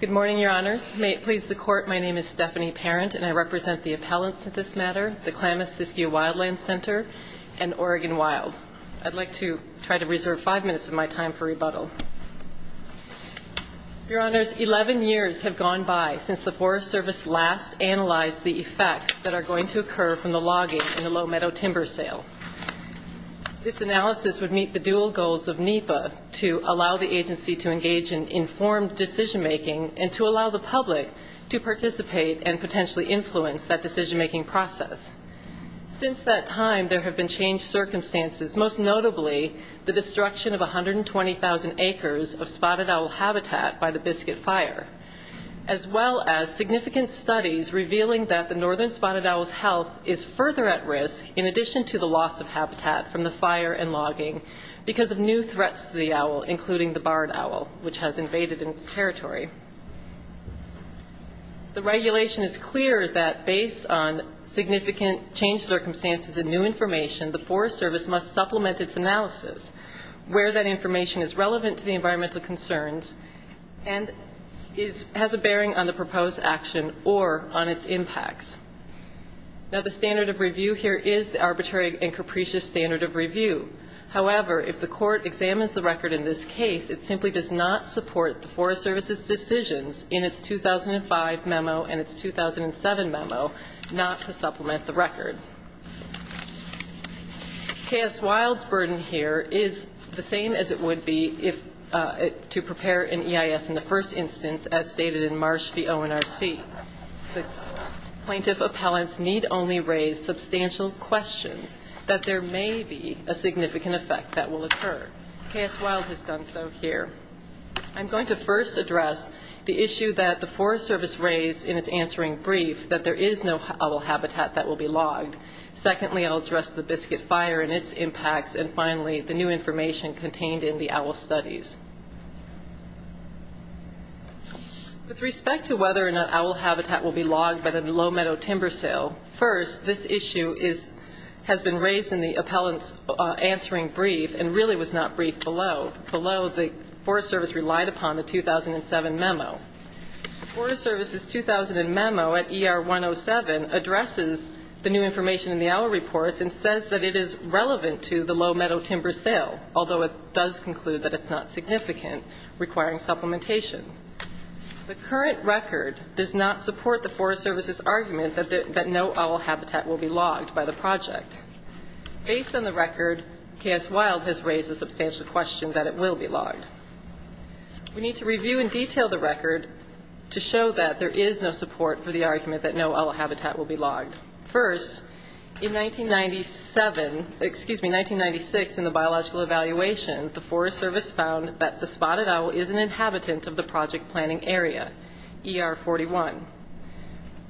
Good morning, Your Honors. May it please the Court, my name is Stephanie Parent, and I represent the appellants at this matter, the Klamath-Siskiyou Wildlands Center and Oregon Wild. I'd like to try to reserve five minutes of my time for rebuttal. Your Honors, 11 years have gone by since the Forest Service last analyzed the effects that are going to occur from the logging in the Low Meadow timber sale. This analysis would meet the dual goals of NEPA to allow the agency to engage in informed decision-making and to allow the public to participate and potentially influence that decision-making process. Since that time, there have been changed circumstances, most notably the destruction of 120,000 acres of spotted owl habitat by the Biscuit Fire, as well as significant studies revealing that the northern spotted owl's health is further at risk, in addition to the loss of habitat from the fire and logging because of new threats to the owl, including the barred owl, which has invaded its territory. The regulation is clear that, based on significant changed circumstances and new information, the Forest Service must supplement its analysis where that information is relevant to the environmental concerns and has a bearing on the proposed action or on its impacts. Now, the standard of review here is the arbitrary and capricious standard of review. However, if the Court examines the record in this case, it simply does not support the Forest Service's decisions in its 2005 memo and its 2007 memo not to supplement the record. K.S. Wilde's burden here is the same as it would be to prepare an EIS in the first instance, as stated in Marsh v. ONRC. The plaintiff appellants need only raise substantial questions that there may be a significant effect that will occur. K.S. Wilde has done so here. I'm going to first address the issue that the Forest Service raised in its answering brief, that there is no owl habitat that will be logged. Secondly, I'll address the Biscuit Fire and its impacts, and finally, the new information contained in the owl studies. With respect to whether or not owl habitat will be logged by the low-meadow timber sale, first, this issue has been raised in the appellant's answering brief and really was not briefed below. Below, the Forest Service relied upon the 2007 memo. The Forest Service's 2000 memo at ER 107 addresses the new information in the owl reports and says that it is relevant to the low-meadow timber sale, although it does conclude that it's not significant. requiring supplementation. The current record does not support the Forest Service's argument that no owl habitat will be logged by the project. Based on the record, K.S. Wilde has raised a substantial question that it will be logged. We need to review in detail the record to show that there is no support for the argument that no owl habitat will be logged. First, in 1997, excuse me, 1996, in the biological evaluation, the Forest Service found that the spotted owl is an inhabitant of the project planning area, ER 41.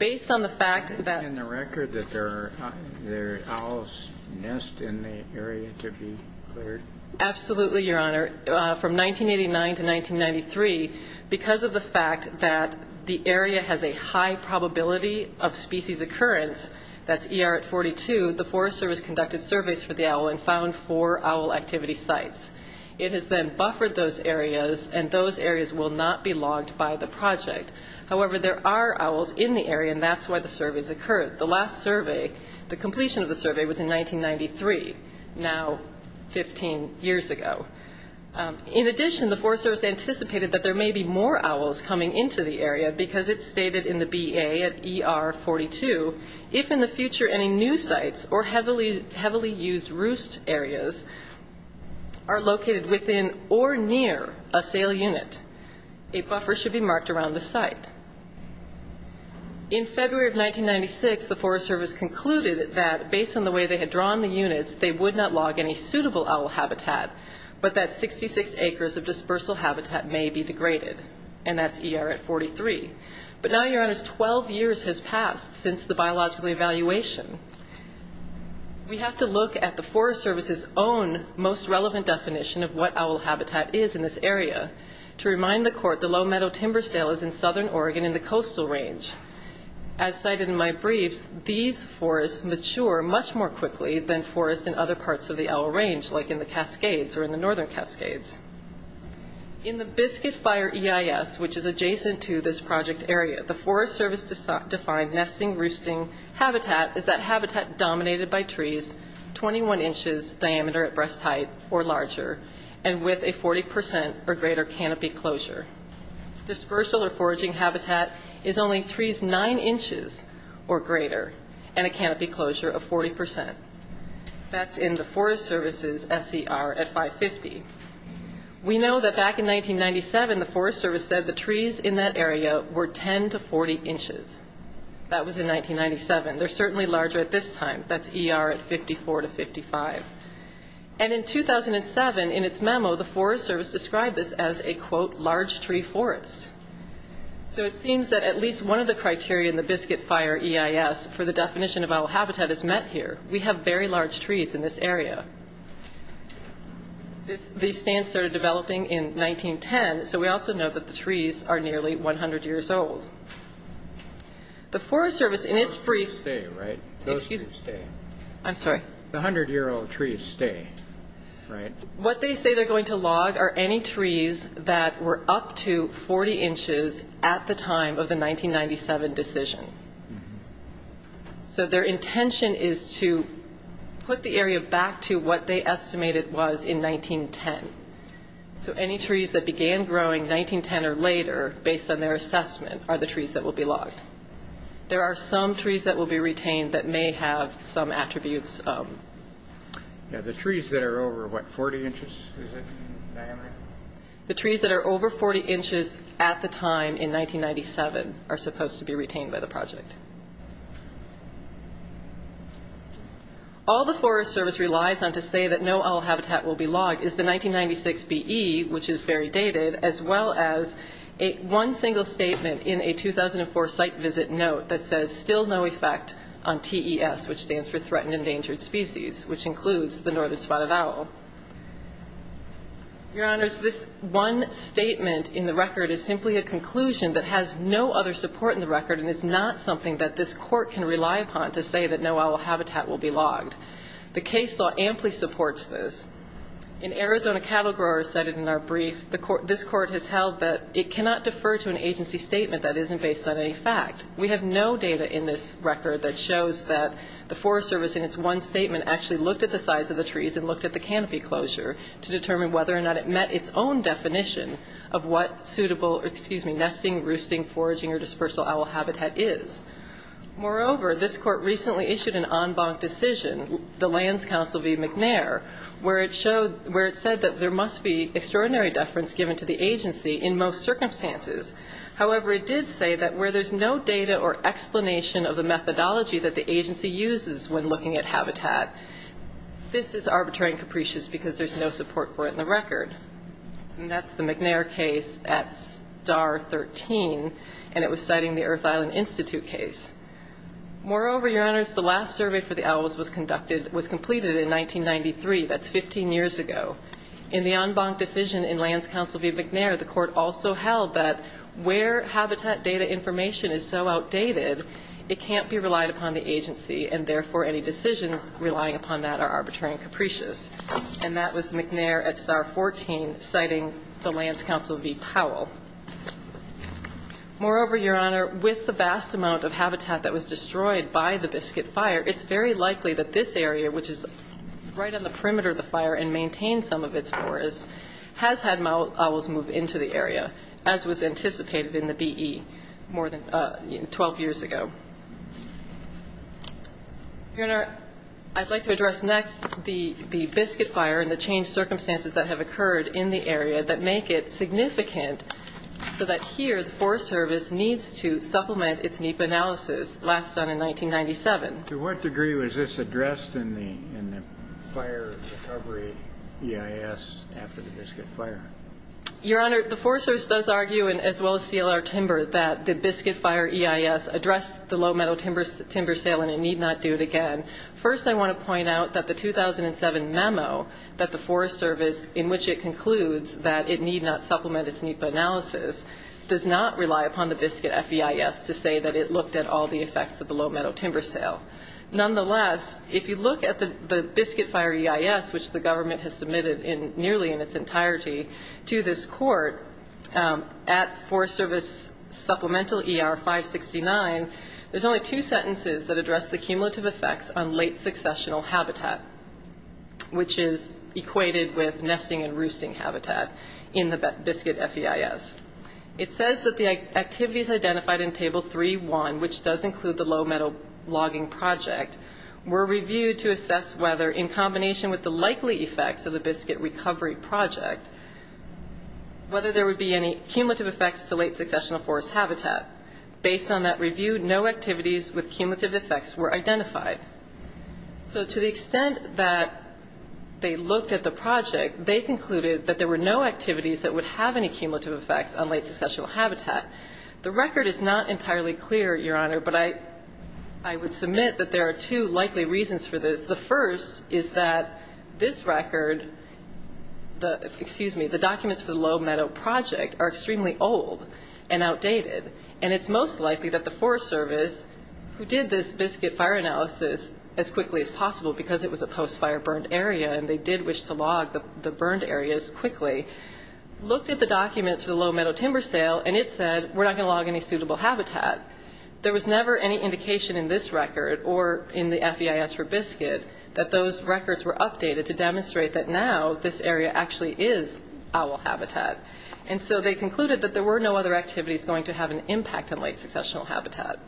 Based on the fact that- In the record that there are owls nest in the area to be cleared? Absolutely, Your Honor. From 1989 to 1993, because of the fact that the area has a high probability of species occurrence, that's ER 42, the Forest Service conducted surveys for the owl and found four owl activity sites. It has then buffered those areas, and those areas will not be logged by the project. However, there are owls in the area, and that's why the surveys occurred. The completion of the survey was in 1993, now 15 years ago. In addition, the Forest Service anticipated that there may be more owls coming into the area, because it stated in the BA at ER 42, if in the future any new sites or heavily used roost areas are located within or near a sale unit, a buffer should be marked around the site. In February of 1996, the Forest Service concluded that, based on the way they had drawn the units, they would not log any suitable owl habitat, but that 66 acres of dispersal habitat may be degraded. And that's ER at 43. But now, Your Honors, 12 years has passed since the biological evaluation. We have to look at the Forest Service's own most relevant definition of what owl habitat is in this area. To remind the Court, the Low Meadow Timber Sale is in southern Oregon in the coastal range. As cited in my briefs, these forests mature much more quickly than forests in other parts of the owl range, like in the Cascades or in the northern Cascades. In the Biscuit Fire EIS, which is adjacent to this project area, the Forest Service defined nesting roosting habitat is that habitat dominated by trees, 21 inches diameter at breast height or larger, and with a 40% or greater canopy closure. Dispersal or foraging habitat is only trees 9 inches or greater and a canopy closure of 40%. That's in the Forest Service's SCR at 550. We know that back in 1997, the Forest Service said the trees in that area were 10 to 40 inches. That was in 1997. They're certainly larger at this time. That's ER at 54 to 55. And in 2007, in its memo, the Forest Service described this as a, quote, large tree forest. So it seems that at least one of the criteria in the Biscuit Fire EIS for the definition of owl habitat is met here. We have very large trees in this area. These stands started developing in 1910, so we also know that the trees are nearly 100 years old. The Forest Service, in its brief, Those trees stay, right? Excuse me. Those trees stay. I'm sorry. The 100-year-old trees stay, right? What they say they're going to log are any trees that were up to 40 inches at the time of the 1997 decision. So their intention is to put the area back to what they estimated was in 1910. So any trees that began growing 1910 or later, based on their assessment, are the trees that will be logged. There are some trees that will be retained that may have some attributes. Yeah, the trees that are over, what, 40 inches in diameter? The trees that are over 40 inches at the time in 1997 are supposed to be retained by the project. All the Forest Service relies on to say that no owl habitat will be logged is the 1996 BE, which is very dated, as well as one single statement in a 2004 site visit note that says, Still no effect on TES, which stands for Threatened Endangered Species, which includes the northern spotted owl. Your Honors, this one statement in the record is simply a conclusion that has no other support in the record and is not something that this court can rely upon to say that no owl habitat will be logged. The case law amply supports this. In Arizona, cattle growers cited in our brief, this court has held that it cannot defer to an agency statement that isn't based on any fact. We have no data in this record that shows that the Forest Service in its one statement actually looked at the size of the trees and looked at the canopy closure to determine whether or not it met its own definition of what suitable, excuse me, nesting, roosting, foraging, or dispersal owl habitat is. Moreover, this court recently issued an en banc decision, the Lands Council v. McNair, where it said that there must be extraordinary deference given to the agency in most circumstances. However, it did say that where there's no data or explanation of the methodology that the agency uses when looking at habitat, this is arbitrary and capricious because there's no support for it in the record. And that's the McNair case at Star 13, and it was citing the Earth Island Institute case. Moreover, Your Honors, the last survey for the owls was completed in 1993. That's 15 years ago. In the en banc decision in Lands Council v. McNair, the court also held that where habitat data information is so outdated, it can't be relied upon the agency, and therefore any decisions relying upon that are arbitrary and capricious. And that was McNair at Star 14, citing the Lands Council v. Powell. Moreover, Your Honor, with the vast amount of habitat that was destroyed by the Biscuit Fire, it's very likely that this area, which is right on the perimeter of the fire and maintains some of its forests, has had owls move into the area, as was anticipated in the BE more than 12 years ago. Your Honor, I'd like to address next the Biscuit Fire and the changed circumstances that have occurred in the area that make it significant so that here the Forest Service needs to supplement its NEPA analysis, last done in 1997. To what degree was this addressed in the fire recovery EIS after the Biscuit Fire? Your Honor, the Forest Service does argue, as well as CLR Timber, that the Biscuit Fire EIS addressed the low-metal timber sale and it need not do it again. First, I want to point out that the 2007 memo that the Forest Service, in which it concludes that it need not supplement its NEPA analysis, does not rely upon the Biscuit FEIS to say that it looked at all the effects of the low-metal timber sale. Nonetheless, if you look at the Biscuit Fire EIS, which the government has submitted nearly in its entirety, to this Court at Forest Service Supplemental ER 569, there's only two sentences that address the cumulative effects on late successional habitat, which is equated with nesting and roosting habitat in the Biscuit FEIS. It says that the activities identified in Table 3.1, which does include the low-metal logging project, were reviewed to assess whether, in combination with the likely effects of the Biscuit recovery project, whether there would be any cumulative effects to late successional forest habitat. Based on that review, no activities with cumulative effects were identified. So to the extent that they looked at the project, they concluded that there were no activities that would have any cumulative effects on late successional habitat. The record is not entirely clear, Your Honor, but I would submit that there are two likely reasons for this. The first is that this record, excuse me, the documents for the low-metal project are extremely old and outdated, and it's most likely that the Forest Service, who did this Biscuit fire analysis as quickly as possible because it was a post-fire burned area and they did wish to log the burned areas quickly, looked at the documents for the low-metal timber sale, and it said, we're not going to log any suitable habitat. There was never any indication in this record or in the FEIS for Biscuit that those records were updated to demonstrate that now this area actually is owl habitat. And so they concluded that there were no other activities going to have an impact on late successional habitat.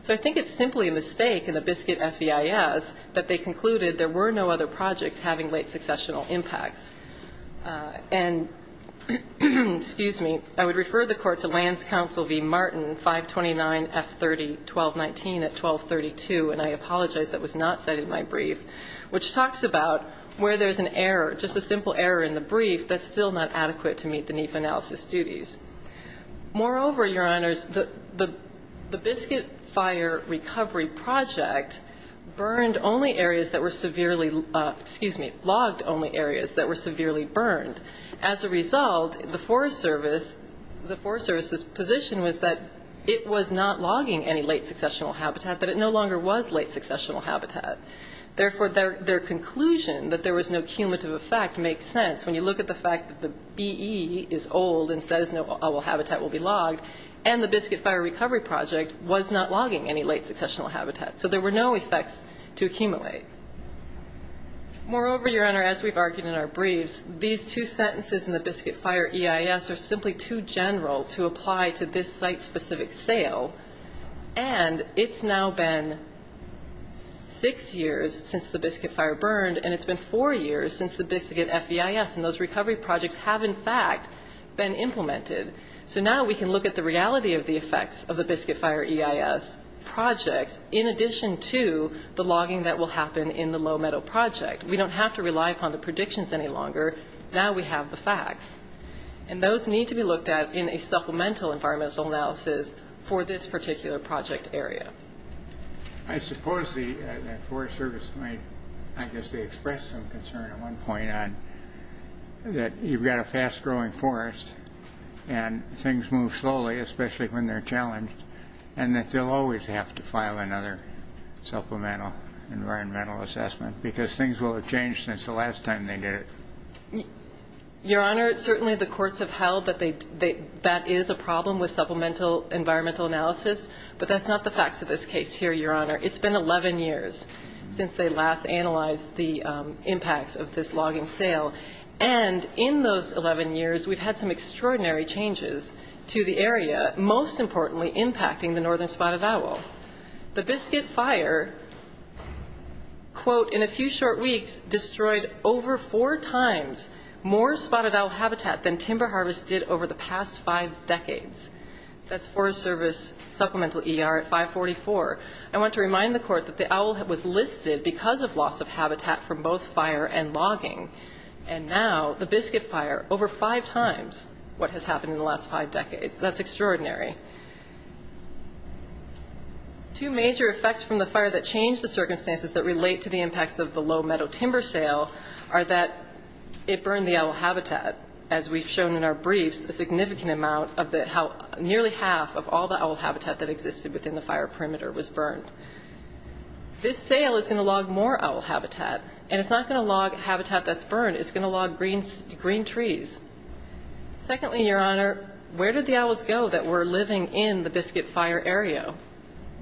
So I think it's simply a mistake in the Biscuit FEIS that they concluded there were no other projects having late successional impacts. And, excuse me, I would refer the Court to Lands Council v. Martin, 529F30-1219 at 1232, and I apologize that was not cited in my brief, which talks about where there's an error, just a simple error in the brief that's still not adequate to meet the NEPA analysis duties. Moreover, Your Honors, the Biscuit fire recovery project burned only areas that were severely excuse me, logged only areas that were severely burned. As a result, the Forest Service's position was that it was not logging any late successional habitat, but it no longer was late successional habitat. Therefore, their conclusion that there was no cumulative effect makes sense. When you look at the fact that the BE is old and says no owl habitat will be logged, and the Biscuit fire recovery project was not logging any late successional habitat. So there were no effects to accumulate. Moreover, Your Honor, as we've argued in our briefs, these two sentences in the Biscuit fire EIS are simply too general to apply to this site-specific sale, and it's now been six years since the Biscuit fire burned, and it's been four years since the Biscuit FEIS, and those recovery projects have, in fact, been implemented. So now we can look at the reality of the effects of the Biscuit fire EIS projects, in addition to the logging that will happen in the Low Meadow project. We don't have to rely upon the predictions any longer. Now we have the facts, and those need to be looked at in a supplemental environmental analysis for this particular project area. I suppose the Forest Service might, I guess, express some concern at one point on that you've got a fast-growing forest, and things move slowly, especially when they're challenged, and that they'll always have to file another supplemental environmental assessment, because things will have changed since the last time they did it. Your Honor, certainly the courts have held that that is a problem with supplemental environmental analysis, but that's not the facts of this case here, Your Honor. It's been 11 years since they last analyzed the impacts of this logging sale, and in those 11 years, we've had some extraordinary changes to the area, most importantly impacting the northern spot of Owl. The Biscuit Fire, quote, in a few short weeks destroyed over four times more spotted owl habitat than timber harvest did over the past five decades. That's Forest Service supplemental ER at 544. I want to remind the Court that the Owl was listed because of loss of habitat from both fire and logging, and now the Biscuit Fire, over five times what has happened in the last five decades. That's extraordinary. Two major effects from the fire that changed the circumstances that relate to the impacts of the low meadow timber sale are that it burned the owl habitat, as we've shown in our briefs, a significant amount of the owl, nearly half of all the owl habitat that existed within the fire perimeter was burned. This sale is going to log more owl habitat, and it's not going to log habitat that's burned. It's going to log green trees. Secondly, Your Honor, where did the owls go that were living in the Biscuit Fire area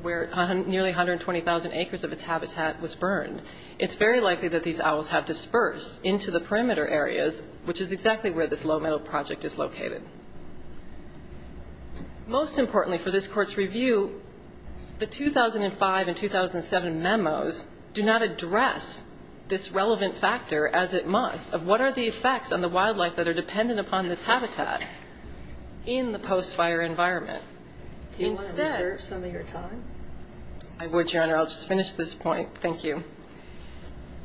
where nearly 120,000 acres of its habitat was burned? It's very likely that these owls have dispersed into the perimeter areas, which is exactly where this low meadow project is located. Most importantly for this Court's review, the 2005 and 2007 memos do not address this relevant factor as it must of what are the effects on the wildlife that are dependent upon this habitat in the post-fire environment. Do you want to reserve some of your time? I would, Your Honor. I'll just finish this point. Thank you.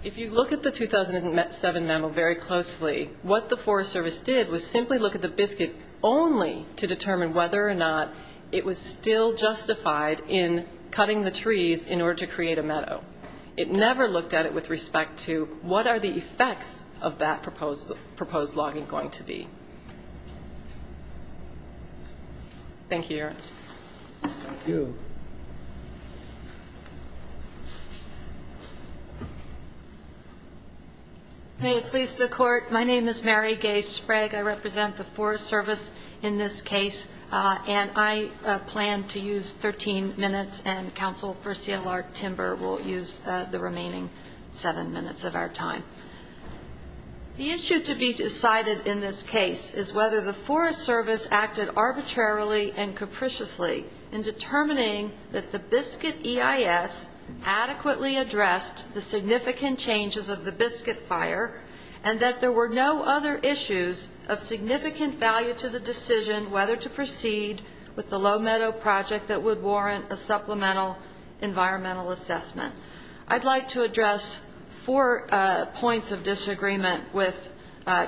If you look at the 2007 memo very closely, what the Forest Service did was simply look at the Biscuit only to determine whether or not it was still justified in cutting the trees in order to create a meadow. It never looked at it with respect to what are the effects of that proposed logging going to be. Thank you, Your Honor. May it please the Court, my name is Mary Gay Sprague. I represent the Forest Service in this case, and I plan to use 13 minutes, and counsel for CLR Timber will use the remaining seven minutes of our time. The issue to be decided in this case is whether the Forest Service acted arbitrarily and capriciously in determining that the Biscuit EIS adequately addressed the significant changes of the Biscuit fire, and that there were no other issues of significant value to the decision whether to proceed with the low meadow project that would warrant a supplemental environmental assessment. I'd like to address four points of disagreement with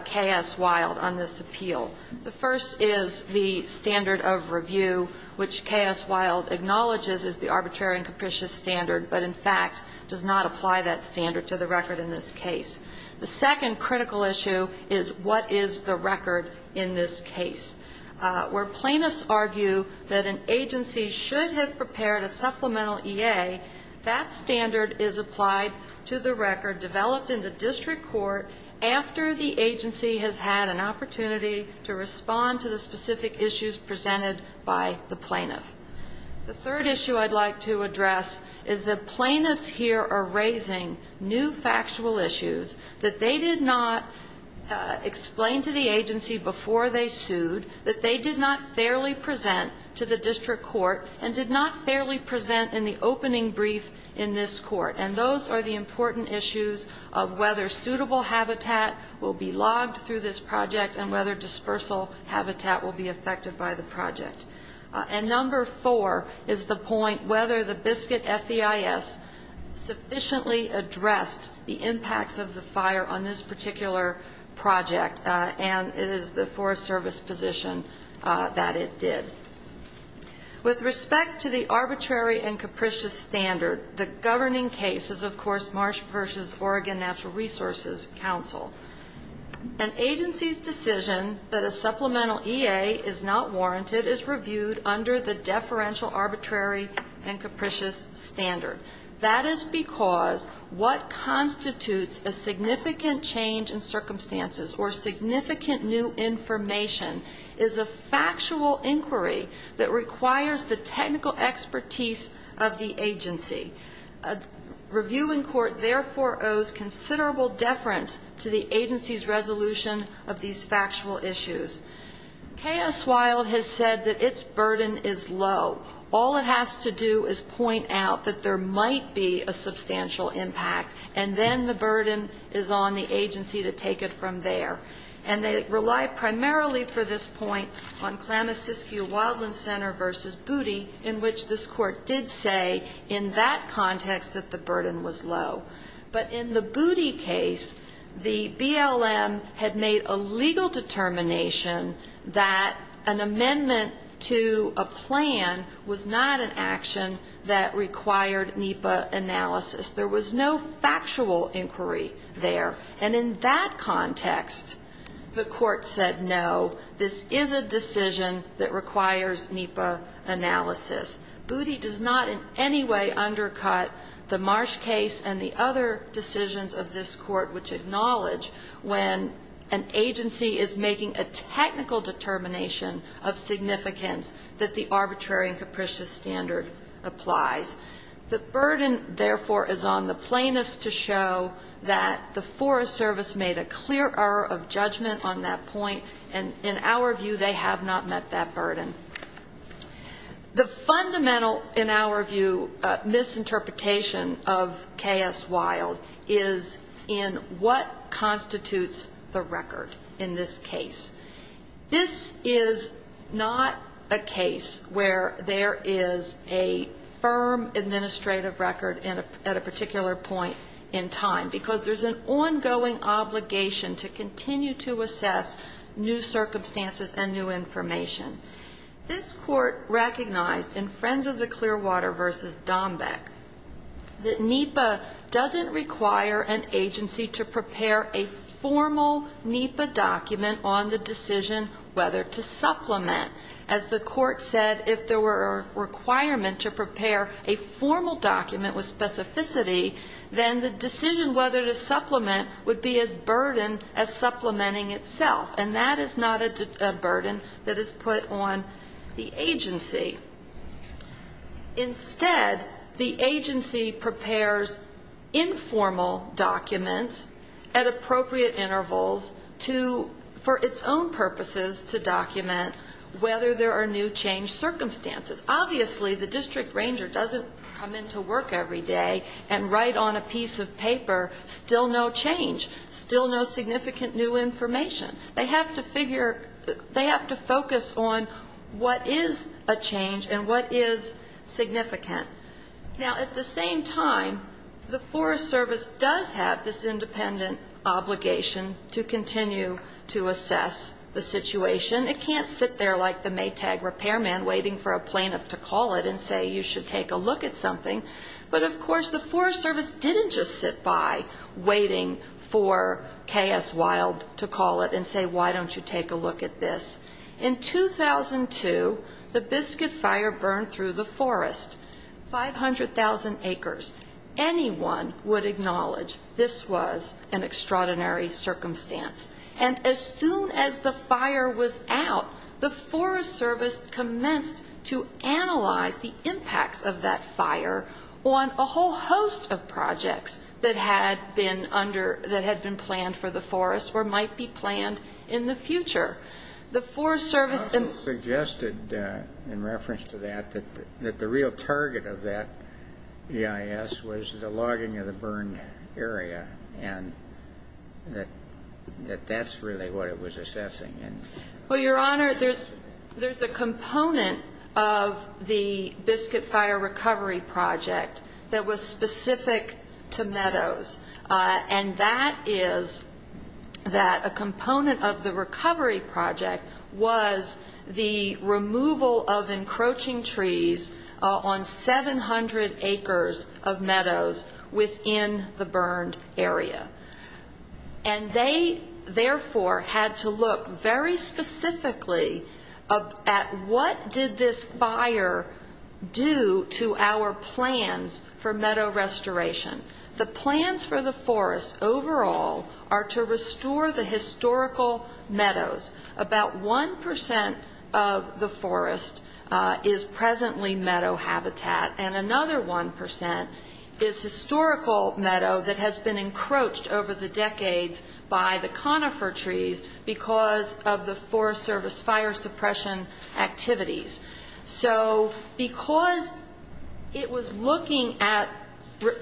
K.S. Wilde on this appeal. The first is the standard of review, which K.S. Wilde acknowledges is the arbitrary and capricious standard, but in fact does not apply that standard to the record in this case. The second critical issue is what is the record in this case. Where plaintiffs argue that an agency should have prepared a supplemental EA, that standard is applied to the record developed in the district court after the agency has had an opportunity to respond to the specific issues presented by the plaintiff. The third issue I'd like to address is that plaintiffs here are raising new factual issues that they did not explain to the agency before they sued, that they did not fairly present to the district court, and did not fairly present in the opening brief in this court. And those are the important issues of whether suitable habitat will be logged through this project and whether dispersal habitat will be affected by the project. And number four is the point whether the Biscuit FEIS sufficiently addressed the impacts of the fire on this particular project, and it is the Forest Service position that it did. With respect to the arbitrary and capricious standard, the governing case is, of course, Marsh v. Oregon Natural Resources Council. An agency's decision that a supplemental EA is not warranted is reviewed under the deferential arbitrary and capricious standard. That is because what constitutes a significant change in circumstances or significant new information is a factual inquiry that requires the technical expertise of the agency. Review in court, therefore, owes considerable deference to the agency's resolution of these factual issues. KS Wilde has said that its burden is low. All it has to do is point out that there might be a substantial impact, and then the burden is on the agency to take it from there. And they rely primarily for this point on Klamasiskia Wildland Center v. Booty, in which this Court did say in that context that the burden was low. But in the Booty case, the BLM had made a legal determination that an amendment to a plan was not an action that required NEPA analysis. There was no factual inquiry there. And in that context, the Court said, no, this is a decision that requires NEPA analysis. Booty does not in any way undercut the Marsh case and the other decisions of this Court, which acknowledge when an agency is making a technical determination of significance that the arbitrary and capricious standard applies. The burden, therefore, is on the plaintiffs to show that the Forest Service made a clear error of judgment on that point, and in our view, they have not met that burden. The fundamental, in our view, misinterpretation of K.S. Wild is in what constitutes the record in this case. This is not a case where there is a firm administrative record at a particular point in time, because there's an ongoing obligation to continue to assess new circumstances and new information. This Court recognized in Friends of the Clearwater v. Dombeck that NEPA doesn't require an agency to prepare a formal NEPA document on the decision whether to supplement. As the Court said, if there were a requirement to prepare a formal document with specificity, then the decision whether to supplement would be as burdened as supplementing itself, and that is not a burden that is put on the agency. Instead, the agency prepares informal documents at appropriate intervals to, for its own purposes, to document whether there are new changed circumstances. Obviously, the district ranger doesn't come into work every day and write on a piece of paper, still no change, still no significant new information. They have to figure, they have to focus on what is a change and what is significant. Now, at the same time, the Forest Service does have this independent obligation to continue to assess the situation. It can't sit there like the Maytag repairman waiting for a plaintiff to call it and say, you should take a look at something. But, of course, the Forest Service didn't just sit by waiting for K.S. Wild to call it and say, why don't you take a look at this. In 2002, the Biscuit Fire burned through the forest, 500,000 acres. Anyone would acknowledge this was an extraordinary circumstance. And as soon as the fire was out, the Forest Service commenced to analyze the impacts of that fire on a whole host of projects that had been under, that had been planned for the forest or might be planned in the future. The Forest Service suggested, in reference to that, that the real target of that EIS was the logging of the burned area, and that that's really what it was assessing. Well, Your Honor, there's a component of the Biscuit Fire recovery project that was specific to meadows. And that is that a component of the recovery project was the removal of encroaching trees on 700 acres of meadows within the burned area. And they, therefore, had to look very specifically at what did this fire do to our plans for meadow restoration. The plans for the forest overall are to restore the historical meadows. About 1 percent of the forest is presently meadow habitat, and another 1 percent is historical meadow that has been encroached. Over the decades, by the conifer trees, because of the Forest Service fire suppression activities. So because it was looking at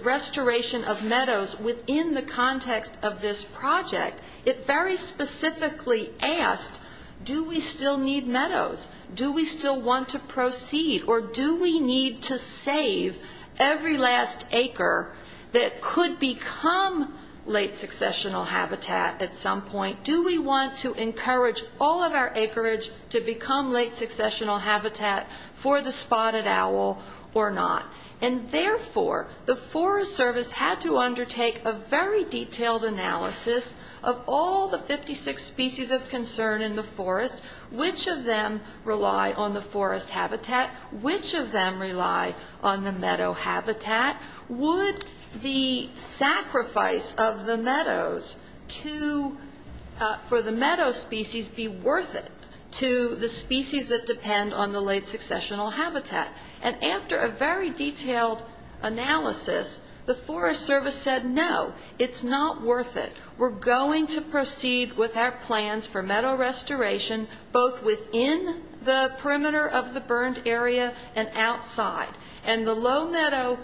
restoration of meadows within the context of this project, it very specifically asked, do we still need meadows? Do we still want to proceed, or do we need to save every last acre that could become a meadow? Do we want to save every last acre that could become late successional habitat at some point? Do we want to encourage all of our acreage to become late successional habitat for the spotted owl or not? And, therefore, the Forest Service had to undertake a very detailed analysis of all the 56 species of concern in the forest, which of them rely on the forest habitat, which of them rely on the meadow habitat. Would the sacrifice of the meadows for the meadow species be worth it to the species that depend on the late successional habitat? And after a very detailed analysis, the Forest Service said, no, it's not worth it. We're going to proceed with our plans for meadow restoration, both within the perimeter of the burned area and outside. And the low meadow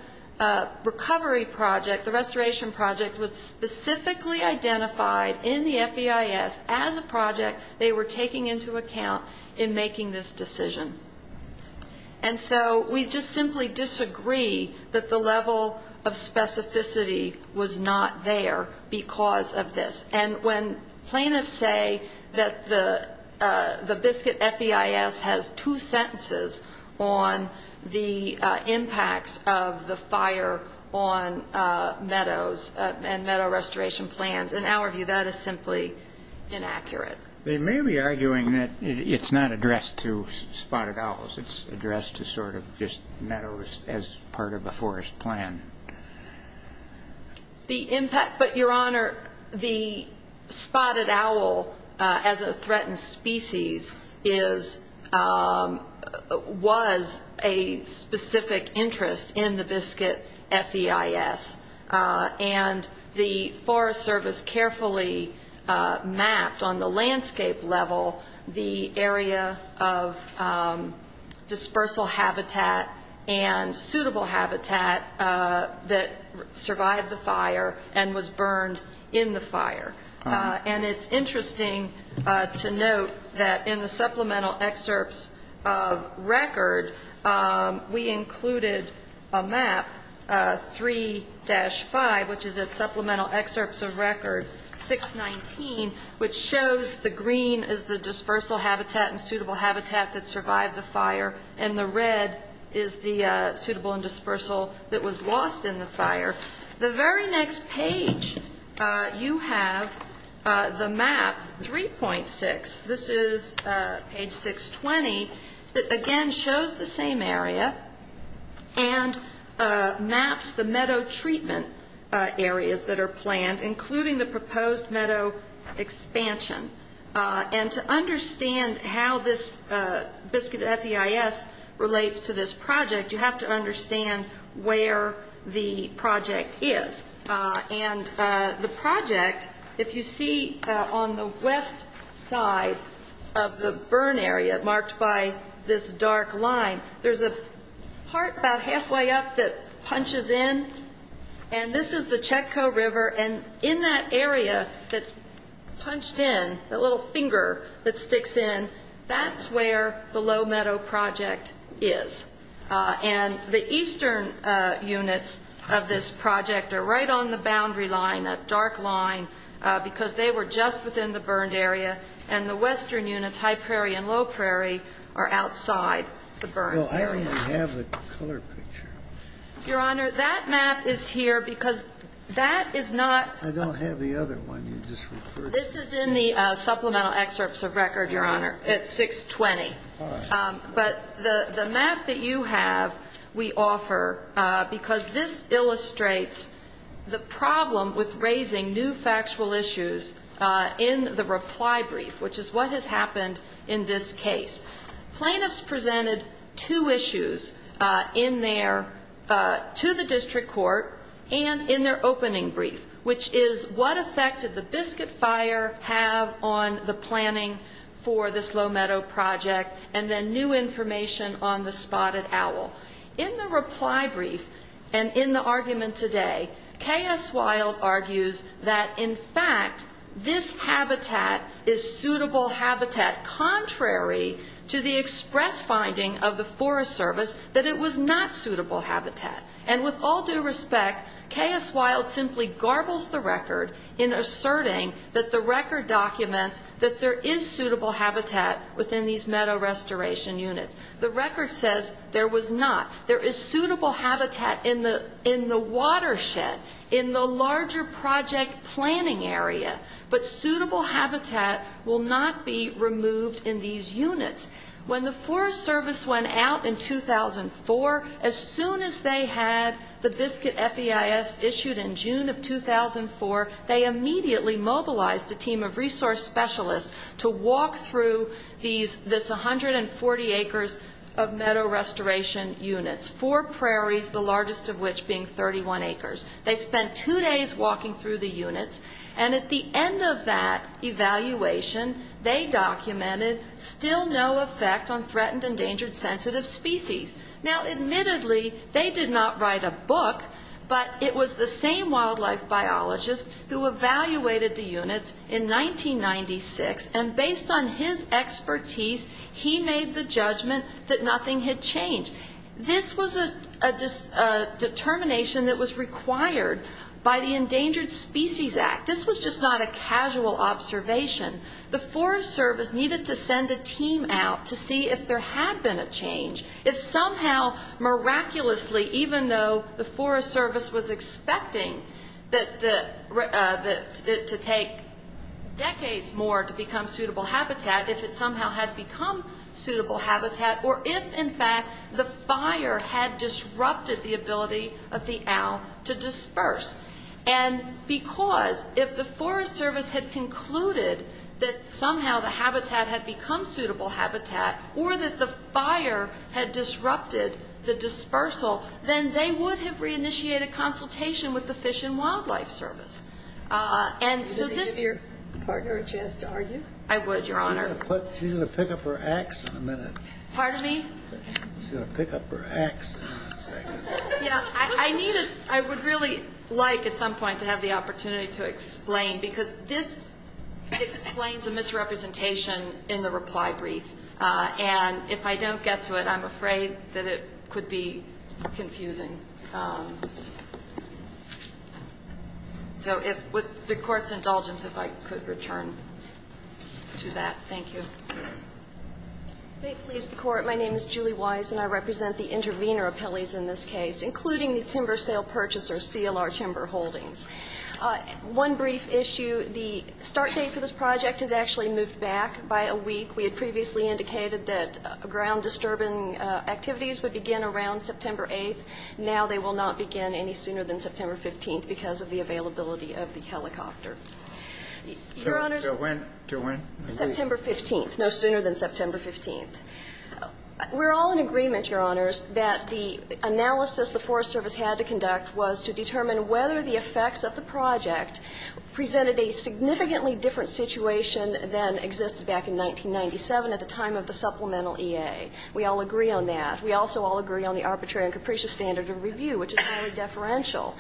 recovery project, the restoration project, was specifically identified in the FEIS as a project they were taking into account in making this decision. And so we just simply disagree that the level of specificity was not there because of this. And when plaintiffs say that the Biscuit FEIS has two sentences on the meadow recovery project, that's not true. They're talking about the impacts of the fire on meadows and meadow restoration plans. In our view, that is simply inaccurate. They may be arguing that it's not addressed to spotted owls. It's addressed to sort of just meadows as part of the forest plan. The impact, but, Your Honor, the spotted owl, as a threatened species, is was a specificity of the project. It was a specific interest in the Biscuit FEIS. And the Forest Service carefully mapped on the landscape level the area of dispersal habitat and suitable habitat that survived the fire and was burned in the fire. And it's interesting to note that in the supplemental excerpts of record, we include the fire hazard, the fire hazard, and the fire hazard. And we included a map, 3-5, which is at supplemental excerpts of record 619, which shows the green is the dispersal habitat and suitable habitat that survived the fire, and the red is the suitable and dispersal that was lost in the fire. The very next page, you have the map 3.6. This is page 620. It, again, shows the same area and maps the meadow treatment areas that are planned, including the proposed meadow expansion. And to understand how this Biscuit FEIS relates to this project, you have to understand where the project is. And the project, if you see on the west side of the burn area, marked by a red line, is the Biscuit FEIS. And if you see on the east side, marked by this dark line, there's a part about halfway up that punches in, and this is the Chetco River. And in that area that's punched in, that little finger that sticks in, that's where the Low Meadow Project is. And the eastern units of this project are right on the boundary line, that dark line, because they were just within the burned area. And the western units, High Prairie and Low Prairie, are outside the burned area. Well, I only have the color picture. Your Honor, that map is here because that is not... I don't have the other one you just referred to. This is in the supplemental excerpts of record, Your Honor, at 620. But the map that you have, we offer, because this illustrates the problem with raising new factual issues in the reply brief, which is what has happened in this case. Plaintiffs presented two issues in their, to the district court, and in their opening brief, which is what effect did the Biscuit FEIS have on the planning for this Low Meadow Project? And then new information on the spotted owl. In the reply brief, and in the argument today, K.S. Wilde argues that, in fact, this habitat is suitable habitat, contrary to the express finding of the Forest Service that it was not suitable habitat. And with all due respect, K.S. Wilde simply garbles the record in asserting that the record documents that there is suitable habitat within these meadow reservations. The record says there was not. There is suitable habitat in the watershed, in the larger project planning area, but suitable habitat will not be removed in these units. When the Forest Service went out in 2004, as soon as they had the Biscuit FEIS issued in June of 2004, they immediately mobilized a team of resource specialists to walk through this 100-acre area. They walked through 340 acres of meadow restoration units, four prairies, the largest of which being 31 acres. They spent two days walking through the units, and at the end of that evaluation, they documented still no effect on threatened, endangered, sensitive species. Now, admittedly, they did not write a book, but it was the same wildlife biologist who evaluated the units in 1996, and based on his expertise, he made a decision to remove the Biscuit FEIS. He made the judgment that nothing had changed. This was a determination that was required by the Endangered Species Act. This was just not a casual observation. The Forest Service needed to send a team out to see if there had been a change, if somehow, miraculously, even though the Forest Service was expecting it to take decades more to become suitable habitat, if it somehow had become suitable habitat. Or if, in fact, the fire had disrupted the ability of the owl to disperse. And because if the Forest Service had concluded that somehow the habitat had become suitable habitat, or that the fire had disrupted the dispersal, then they would have reinitiated consultation with the Fish and Wildlife Service. And so this --. I'm going to pick up her axe in a second. Yeah, I would really like at some point to have the opportunity to explain, because this explains a misrepresentation in the reply brief. And if I don't get to it, I'm afraid that it could be confusing. So with the Court's indulgence, if I could return to that. Thank you. Okay. Please, the Court. My name is Julie Wise, and I represent the intervener appellees in this case, including the timber sale purchasers, CLR Timber Holdings. One brief issue. The start date for this project has actually moved back by a week. We had previously indicated that ground-disturbing activities would begin around September 8th. Now they will not begin any sooner than September 15th because of the availability of the helicopter. Your Honors. Till when? September 15th. No sooner than September 15th. We're all in agreement, Your Honors, that the analysis the Forest Service had to conduct was to determine whether the effects of the project presented a significantly different situation than existed back in 1997 at the time of the supplemental EA. We all agree on that. We also all agree on the arbitrary and capricious standard of review, which is highly deferential.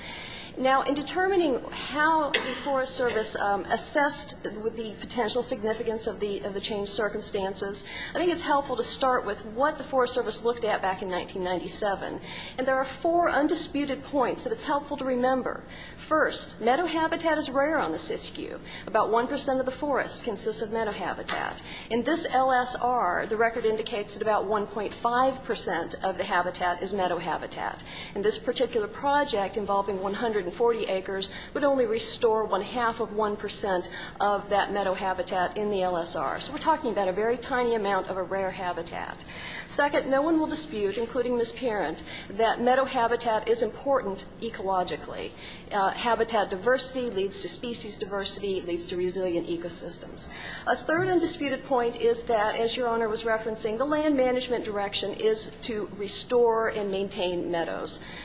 Now, in determining how the Forest Service assessed the potential significance of the changed circumstances, I think it's helpful to start with what the Forest Service looked at back in 1997. And there are four undisputed points that it's helpful to remember. First, meadow habitat is rare on the SISKU. About 1 percent of the forest consists of meadow habitat. In this LSR, the record indicates that about 1.5 percent of the habitat is meadow habitat. And this particular project involving 140 acres would only restore one-half of 1 percent of that meadow habitat in the LSR. So we're talking about a very tiny amount of a rare habitat. Second, no one will dispute, including Ms. Parent, that meadow habitat is important ecologically. Habitat diversity leads to species diversity, leads to resilient ecosystems. A third undisputed point is that, as Your Honor was referencing, the land management direction is to restore and maintain meadow habitat.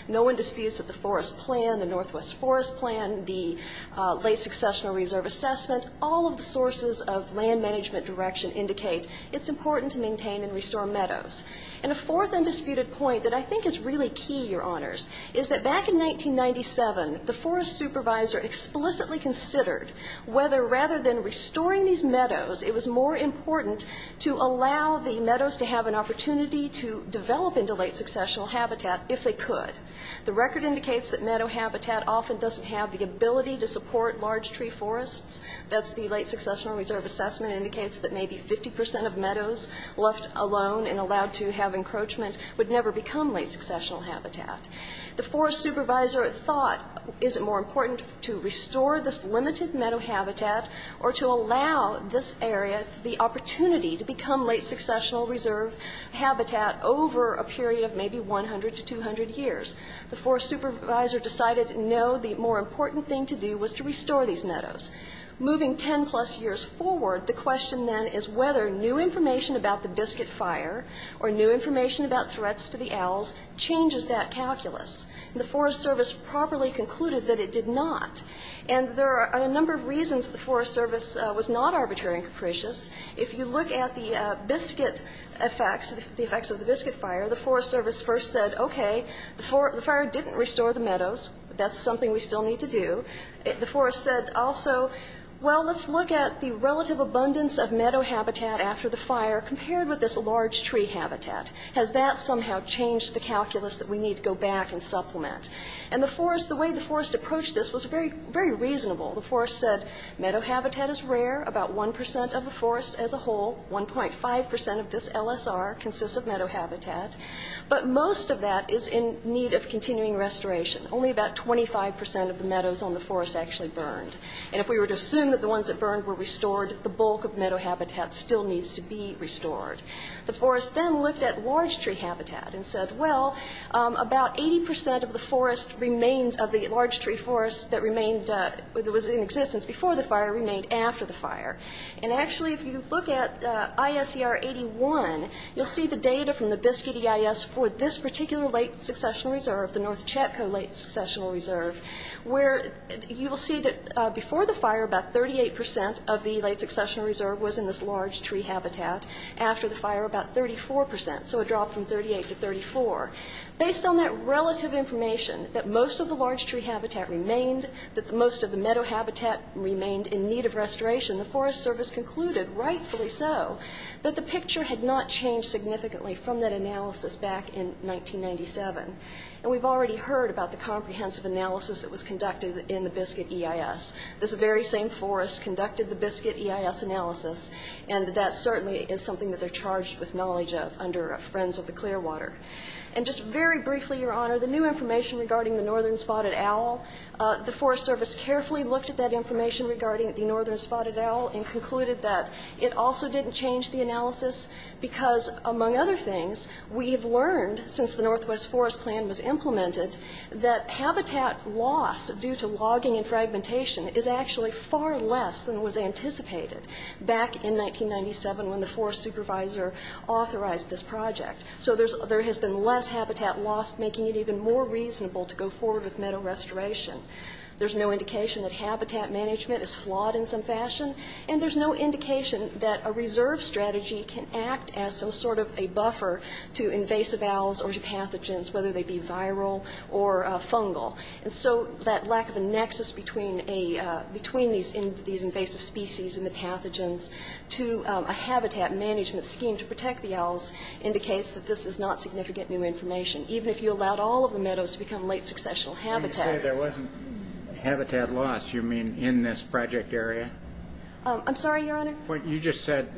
No one disputes that the Forest Plan, the Northwest Forest Plan, the Late Successional Reserve Assessment, all of the sources of land management direction indicate it's important to maintain and restore meadows. And a fourth undisputed point that I think is really key, Your Honors, is that back in 1997, the forest supervisor explicitly considered whether, rather than restoring these meadows, it was more important to allow the meadows to have an opportunity to develop into late successional habitat if they could. The record indicates that meadow habitat often doesn't have the ability to support large tree forests. That's the Late Successional Reserve Assessment indicates that maybe 50 percent of meadows left alone and allowed to have encroachment would never become late successional habitat. The forest supervisor thought, is it more important to restore this limited meadow habitat or to allow this area the opportunity to become late successional reserve habitat over a period of maybe 100 to 200 years? The forest supervisor decided no, the more important thing to do was to restore these meadows. Moving 10 plus years forward, the question then is whether new information about the Biscuit Fire or new information about threats to the owls changes that calculus. And the Forest Service properly concluded that it did not. And there are a number of reasons the Forest Service was not arbitrary and capricious. If you look at the biscuit effects, the effects of the Biscuit Fire, the Forest Service first said, okay, the fire didn't restore the meadows, that's something we still need to do. The forest said also, well, let's look at the relative abundance of meadow habitat after the fire compared with this large tree habitat. Has that somehow changed the calculus that we need to go back and supplement? And the forest, the way the forest approached this was very reasonable. The forest said meadow habitat is rare, about 1% of the forest as a whole, 1.5% of this LSR consists of meadow habitat. But most of that is in need of continuing restoration. Only about 25% of the meadows on the forest actually burned. And if we were to assume that the ones that burned were restored, the bulk of meadow habitat still needs to be restored. The forest then looked at large tree habitat and said, well, about 80% of the forest remains of the large tree forest that remained, that was in existence before the fire remained after the fire. And actually, if you look at ISER 81, you'll see the data from the Biscuit EIS for this particular late-successional reserve, the North Chetco late-successional reserve, where you will see that before the fire about 38% of the late-successional reserve was in this large tree habitat, after the fire about 34%, so a drop from 38 to 34. Based on that relative information, that most of the large tree habitat remained, that most of the meadow habitat remained in need of restoration, the Forest Service concluded, rightfully so, that the picture had not changed significantly from that analysis back in 1997. And we've already heard about the comprehensive analysis that was conducted in the Biscuit EIS. This very same forest conducted the Biscuit EIS analysis, and that certainly is something that they're charged with knowledge of under Friends of the Clearwater. And just very briefly, Your Honor, the new information regarding the Northern Spotted Owl, the Forest Service carefully looked at that information regarding the Northern Spotted Owl and concluded that it also didn't change the analysis because, among other things, we've learned, since the Northwest Forest Plan was implemented, that habitat loss due to logging and fragmentation is actually far less than was anticipated back in 1997, when the Forest Supervisor authorized this project. So there has been less habitat loss, making it even more reasonable to go forward with meadow restoration. There's no indication that habitat management is flawed in some fashion, and there's no indication that a reserve strategy can act as some sort of a buffer to invasive owls or to pathogens, whether they be viral or fungal. And so that lack of a nexus between these invasive species and the pathogens to a habitat management scheme to protect the owls indicates that this is not significant new information, even if you allowed all of the meadows to become late-successional habitat. When you say there wasn't habitat loss, you mean in this project area? I'm sorry, Your Honor? You just said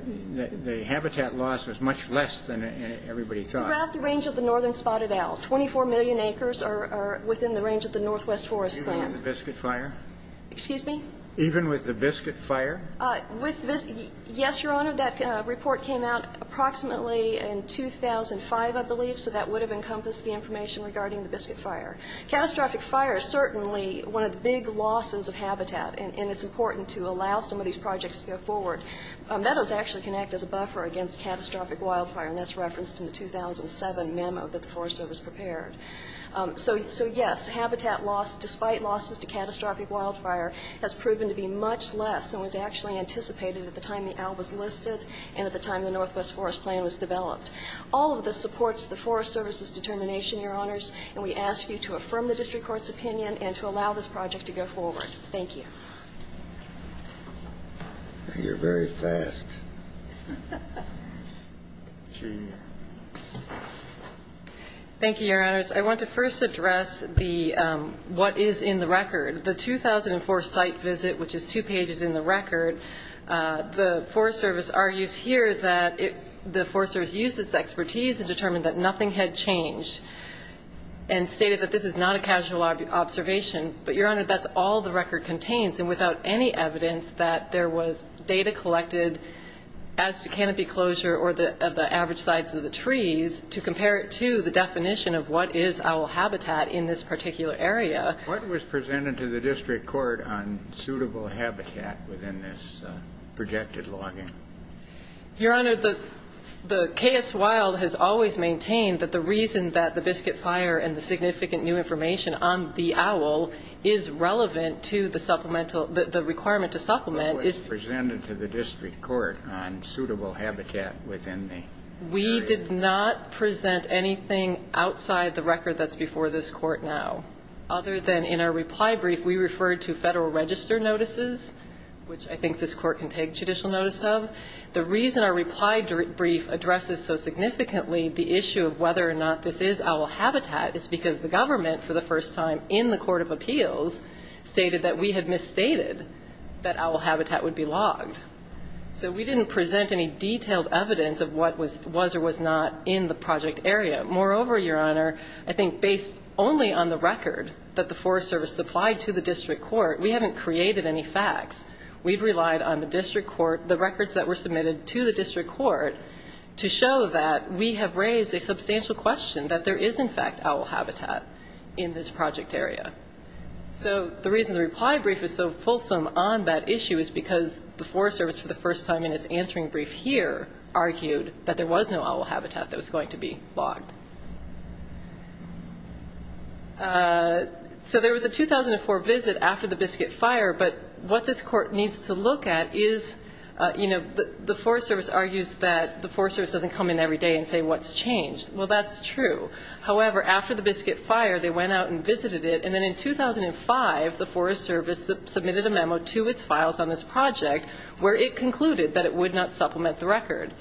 the habitat loss was much less than everybody thought. Throughout the range of the Northern Spotted Owl, 24 million acres are within the range of the Northwest Forest Plan. Even with the Biscuit Fire? Yes, Your Honor. That report came out approximately in 2005, I believe, so that would have encompassed the information regarding the Biscuit Fire. Catastrophic fire is certainly one of the big losses of habitat, and it's important to allow some of these projects to go forward. Meadows actually can act as a buffer against catastrophic wildfire, and that's referenced in the 2007 memo that the Forest Service prepared. So, yes, habitat loss, despite losses to catastrophic wildfire, has proven to be much less than was actually anticipated at the time the owl was listed and at the time the Northwest Forest Plan was developed. All of this supports the Forest Service's determination, Your Honors, and we ask you to affirm the district court's opinion and to allow this project to go forward. Thank you. Thank you, Your Honors. I want to first address the what is in the record. The 2004 site visit, which is two pages in the record, the Forest Service argues here that the Forest Service used its expertise and determined that nothing had changed, and stated that this is not a casual observation. But, Your Honor, that's all the record contains, and without any evidence that there was data collected as to canopy closure or the average size of the trees, to compare it to the definition of what is owl habitat in this particular area. What was presented to the district court on suitable habitat within this projected login? Your Honor, the KS Wild has always maintained that the reason that the Biscuit Fire and the significant new information on the owl is not a casual observation is because it's a login. The reason that the owl is relevant to the requirement to supplement is because it's a login. What was presented to the district court on suitable habitat within the project? We did not present anything outside the record that's before this court now, other than in our reply brief, we referred to federal register notices, which I think this court can take judicial notice of. The reason our reply brief addresses so significantly the issue of whether or not this is owl habitat is because the government, for the first time in the Court of Appeals, decided that this is not a casual observation. The Court of Appeals stated that we had misstated that owl habitat would be logged. So we didn't present any detailed evidence of what was or was not in the project area. Moreover, Your Honor, I think based only on the record that the Forest Service supplied to the district court, we haven't created any facts. We've relied on the district court, the records that were submitted to the district court, to show that we have raised a substantial question that there is in fact owl habitat in this project area. So the reason the reply brief is so fulsome on that issue is because the Forest Service, for the first time in its answering brief here, argued that there was no owl habitat that was going to be logged. So there was a 2004 visit after the Biscuit Fire, but what this court needs to look at is, you know, the Forest Service argues that the Forest Service doesn't come in every day and say what's changed. Well that's true, however, after the Biscuit Fire, they went out and visited it, and then in 2005, the Forest Service submitted a memo to its files on this project where it concluded that it would not supplement the record.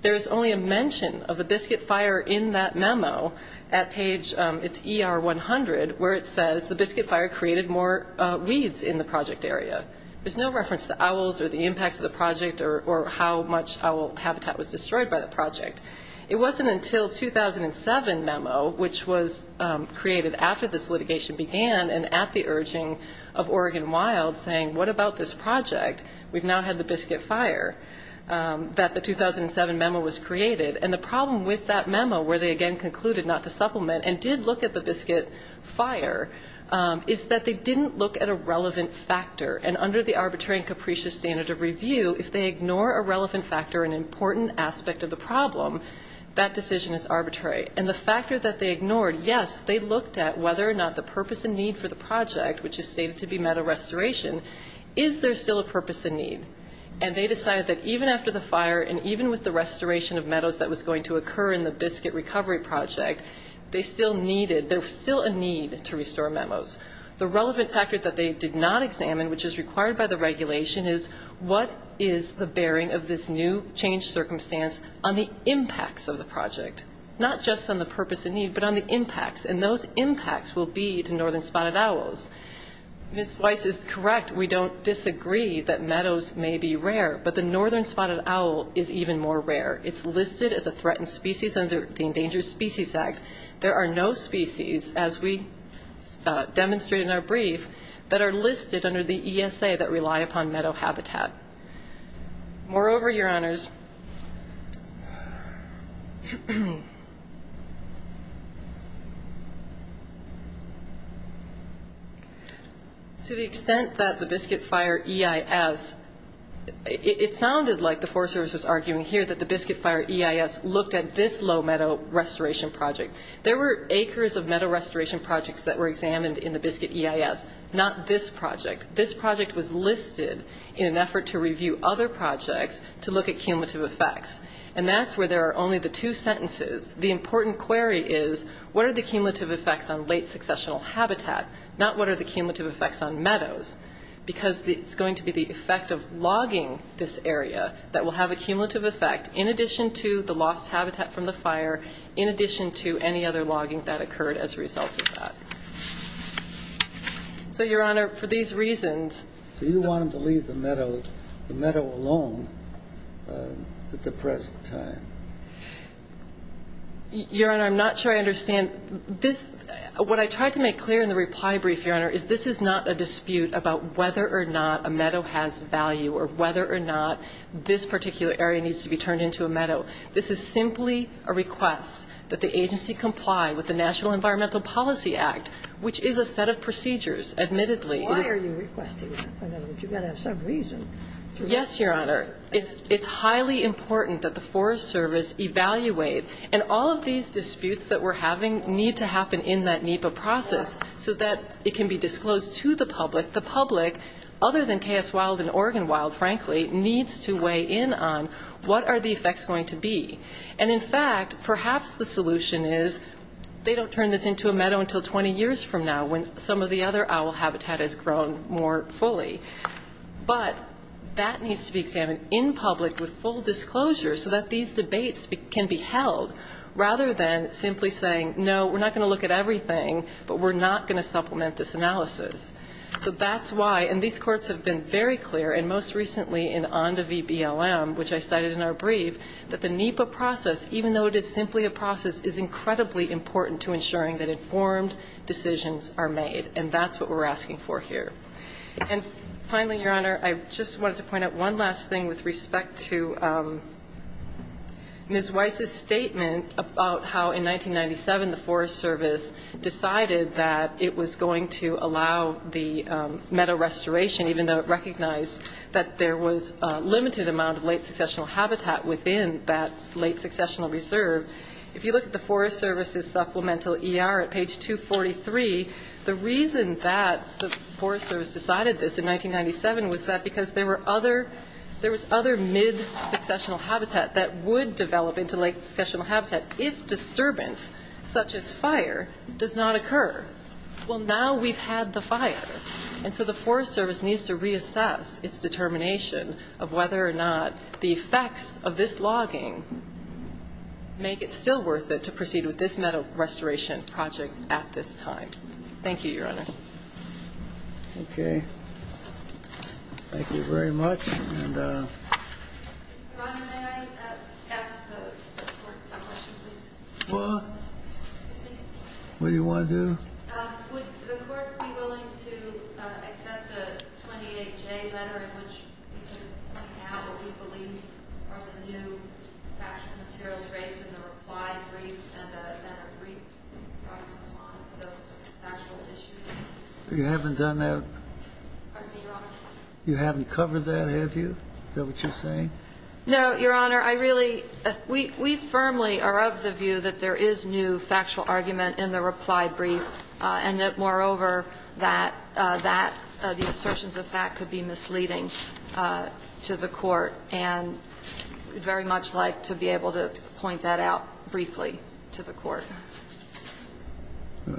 There's only a mention of the Biscuit Fire in that memo at page, it's ER 100, where it says the Biscuit Fire created more weeds in the project area. There's no reference to owls or the impacts of the project or how much owl habitat was destroyed by the project. It wasn't until 2007 memo, which was created after this litigation began and at the urging of Oregon Wild, saying what about this project, we've now had the Biscuit Fire, that the 2007 memo was created. And the problem with that memo, where they again concluded not to supplement and did look at the Biscuit Fire, is that they didn't look at a relevant factor. And under the Arbitrary and Capricious Standard of Review, if they ignore a relevant factor, an important aspect of the problem, they can't look at the Biscuit Fire. That decision is arbitrary. And the factor that they ignored, yes, they looked at whether or not the purpose and need for the project, which is stated to be meadow restoration, is there still a purpose and need? And they decided that even after the fire and even with the restoration of meadows that was going to occur in the Biscuit Recovery Project, they still needed, there was still a need to restore memos. The relevant factor that they did not examine, which is required by the regulation, is what is the bearing of this new changed circumstance on the impact of the Biscuit Recovery Project? And that is the impacts of the project. Not just on the purpose and need, but on the impacts. And those impacts will be to Northern Spotted Owls. Ms. Weiss is correct, we don't disagree that meadows may be rare, but the Northern Spotted Owl is even more rare. It's listed as a threatened species under the Endangered Species Act. There are no species, as we demonstrated in our brief, that are listed under the ESA that rely upon meadow habitat. Moreover, Your Honors, to the extent that the Biscuit Fire EIS, it sounded like the Forest Service was arguing here that the Biscuit Fire EIS looked at this low meadow restoration project. There were acres of meadow restoration projects that were examined in the Biscuit EIS, not this project. This project was listed in an effort to review other projects to look at cumulative effects. And that's where there are only the two sentences. The important query is, what are the cumulative effects on late successional habitat, not what are the cumulative effects on meadows. Because it's going to be the effect of logging this area that will have a cumulative effect in addition to the lost habitat from the fire, in addition to any other logging that occurred as a result of that. So, Your Honor, for these reasons... Do you want them to leave the meadow alone at the present time? Your Honor, I'm not sure I understand. What I tried to make clear in the reply brief, Your Honor, is this is not a dispute about whether or not a meadow has value or whether or not this particular area needs to be turned into a meadow. This is simply a request that the agency comply with the National Environmental Policy Act, which is a set of procedures, admittedly. Why are you requesting that? I mean, you've got to have some reason. Yes, Your Honor. It's highly important that the Forest Service evaluate. And all of these disputes that we're having need to happen in that NEPA process so that it can be disclosed to the public. The public, other than KS Wild and Oregon Wild, frankly, needs to weigh in on what are the effects going to be. And, in fact, perhaps the solution is they don't turn this into a meadow until 20 years from now, when some of the other owl habitat has grown more fully. But that needs to be examined in public with full disclosure so that these debates can be held, rather than simply saying, no, we're not going to look at everything, but we're not going to supplement this analysis. So that's why, and these courts have been very clear, and most recently in ONDA v. BLM, which I cited in our brief, that the NEPA process needs to be examined in public. And the NEPA process, even though it is simply a process, is incredibly important to ensuring that informed decisions are made. And that's what we're asking for here. And, finally, Your Honor, I just wanted to point out one last thing with respect to Ms. Weiss' statement about how, in 1997, the Forest Service decided that it was going to allow the meadow restoration, even though it recognized that there was a limited amount of late successional habitat within that meadow. And that was in the late successional reserve. If you look at the Forest Service's supplemental ER at page 243, the reason that the Forest Service decided this in 1997 was that because there were other, there was other mid-successional habitat that would develop into late successional habitat, if disturbance such as fire does not occur. Well, now we've had the fire. And so the Forest Service needs to reassess its determination of whether or not the effects of this logging, the effects of this logging, are going to be mitigated. And, therefore, make it still worth it to proceed with this meadow restoration project at this time. Thank you, Your Honor. Okay. Thank you very much. Your Honor, may I ask the Court a question, please? Well, what do you want to do? Would the Court be willing to accept a 28J letter in which we can point out what we believe are the new factual materials raised in the reply brief and a brief response to those factual issues? You haven't done that? Pardon me, Your Honor? You haven't covered that, have you? Is that what you're saying? No, Your Honor. I really, we firmly are of the view that there is new factual argument in the reply brief, and that, moreover, that that, the assertions of fact could be misleading to the Court. And we'd very much like to be able to point that out briefly to the Court. Well,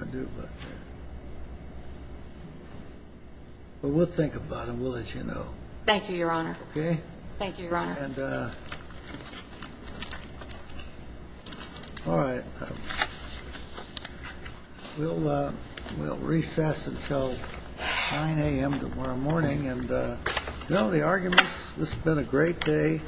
we'll think about it. We'll let you know. Thank you, Your Honor. Okay? Thank you, Your Honor. All right. We'll recess until 9 a.m. tomorrow morning. And, you know, the arguments, this has been a great day.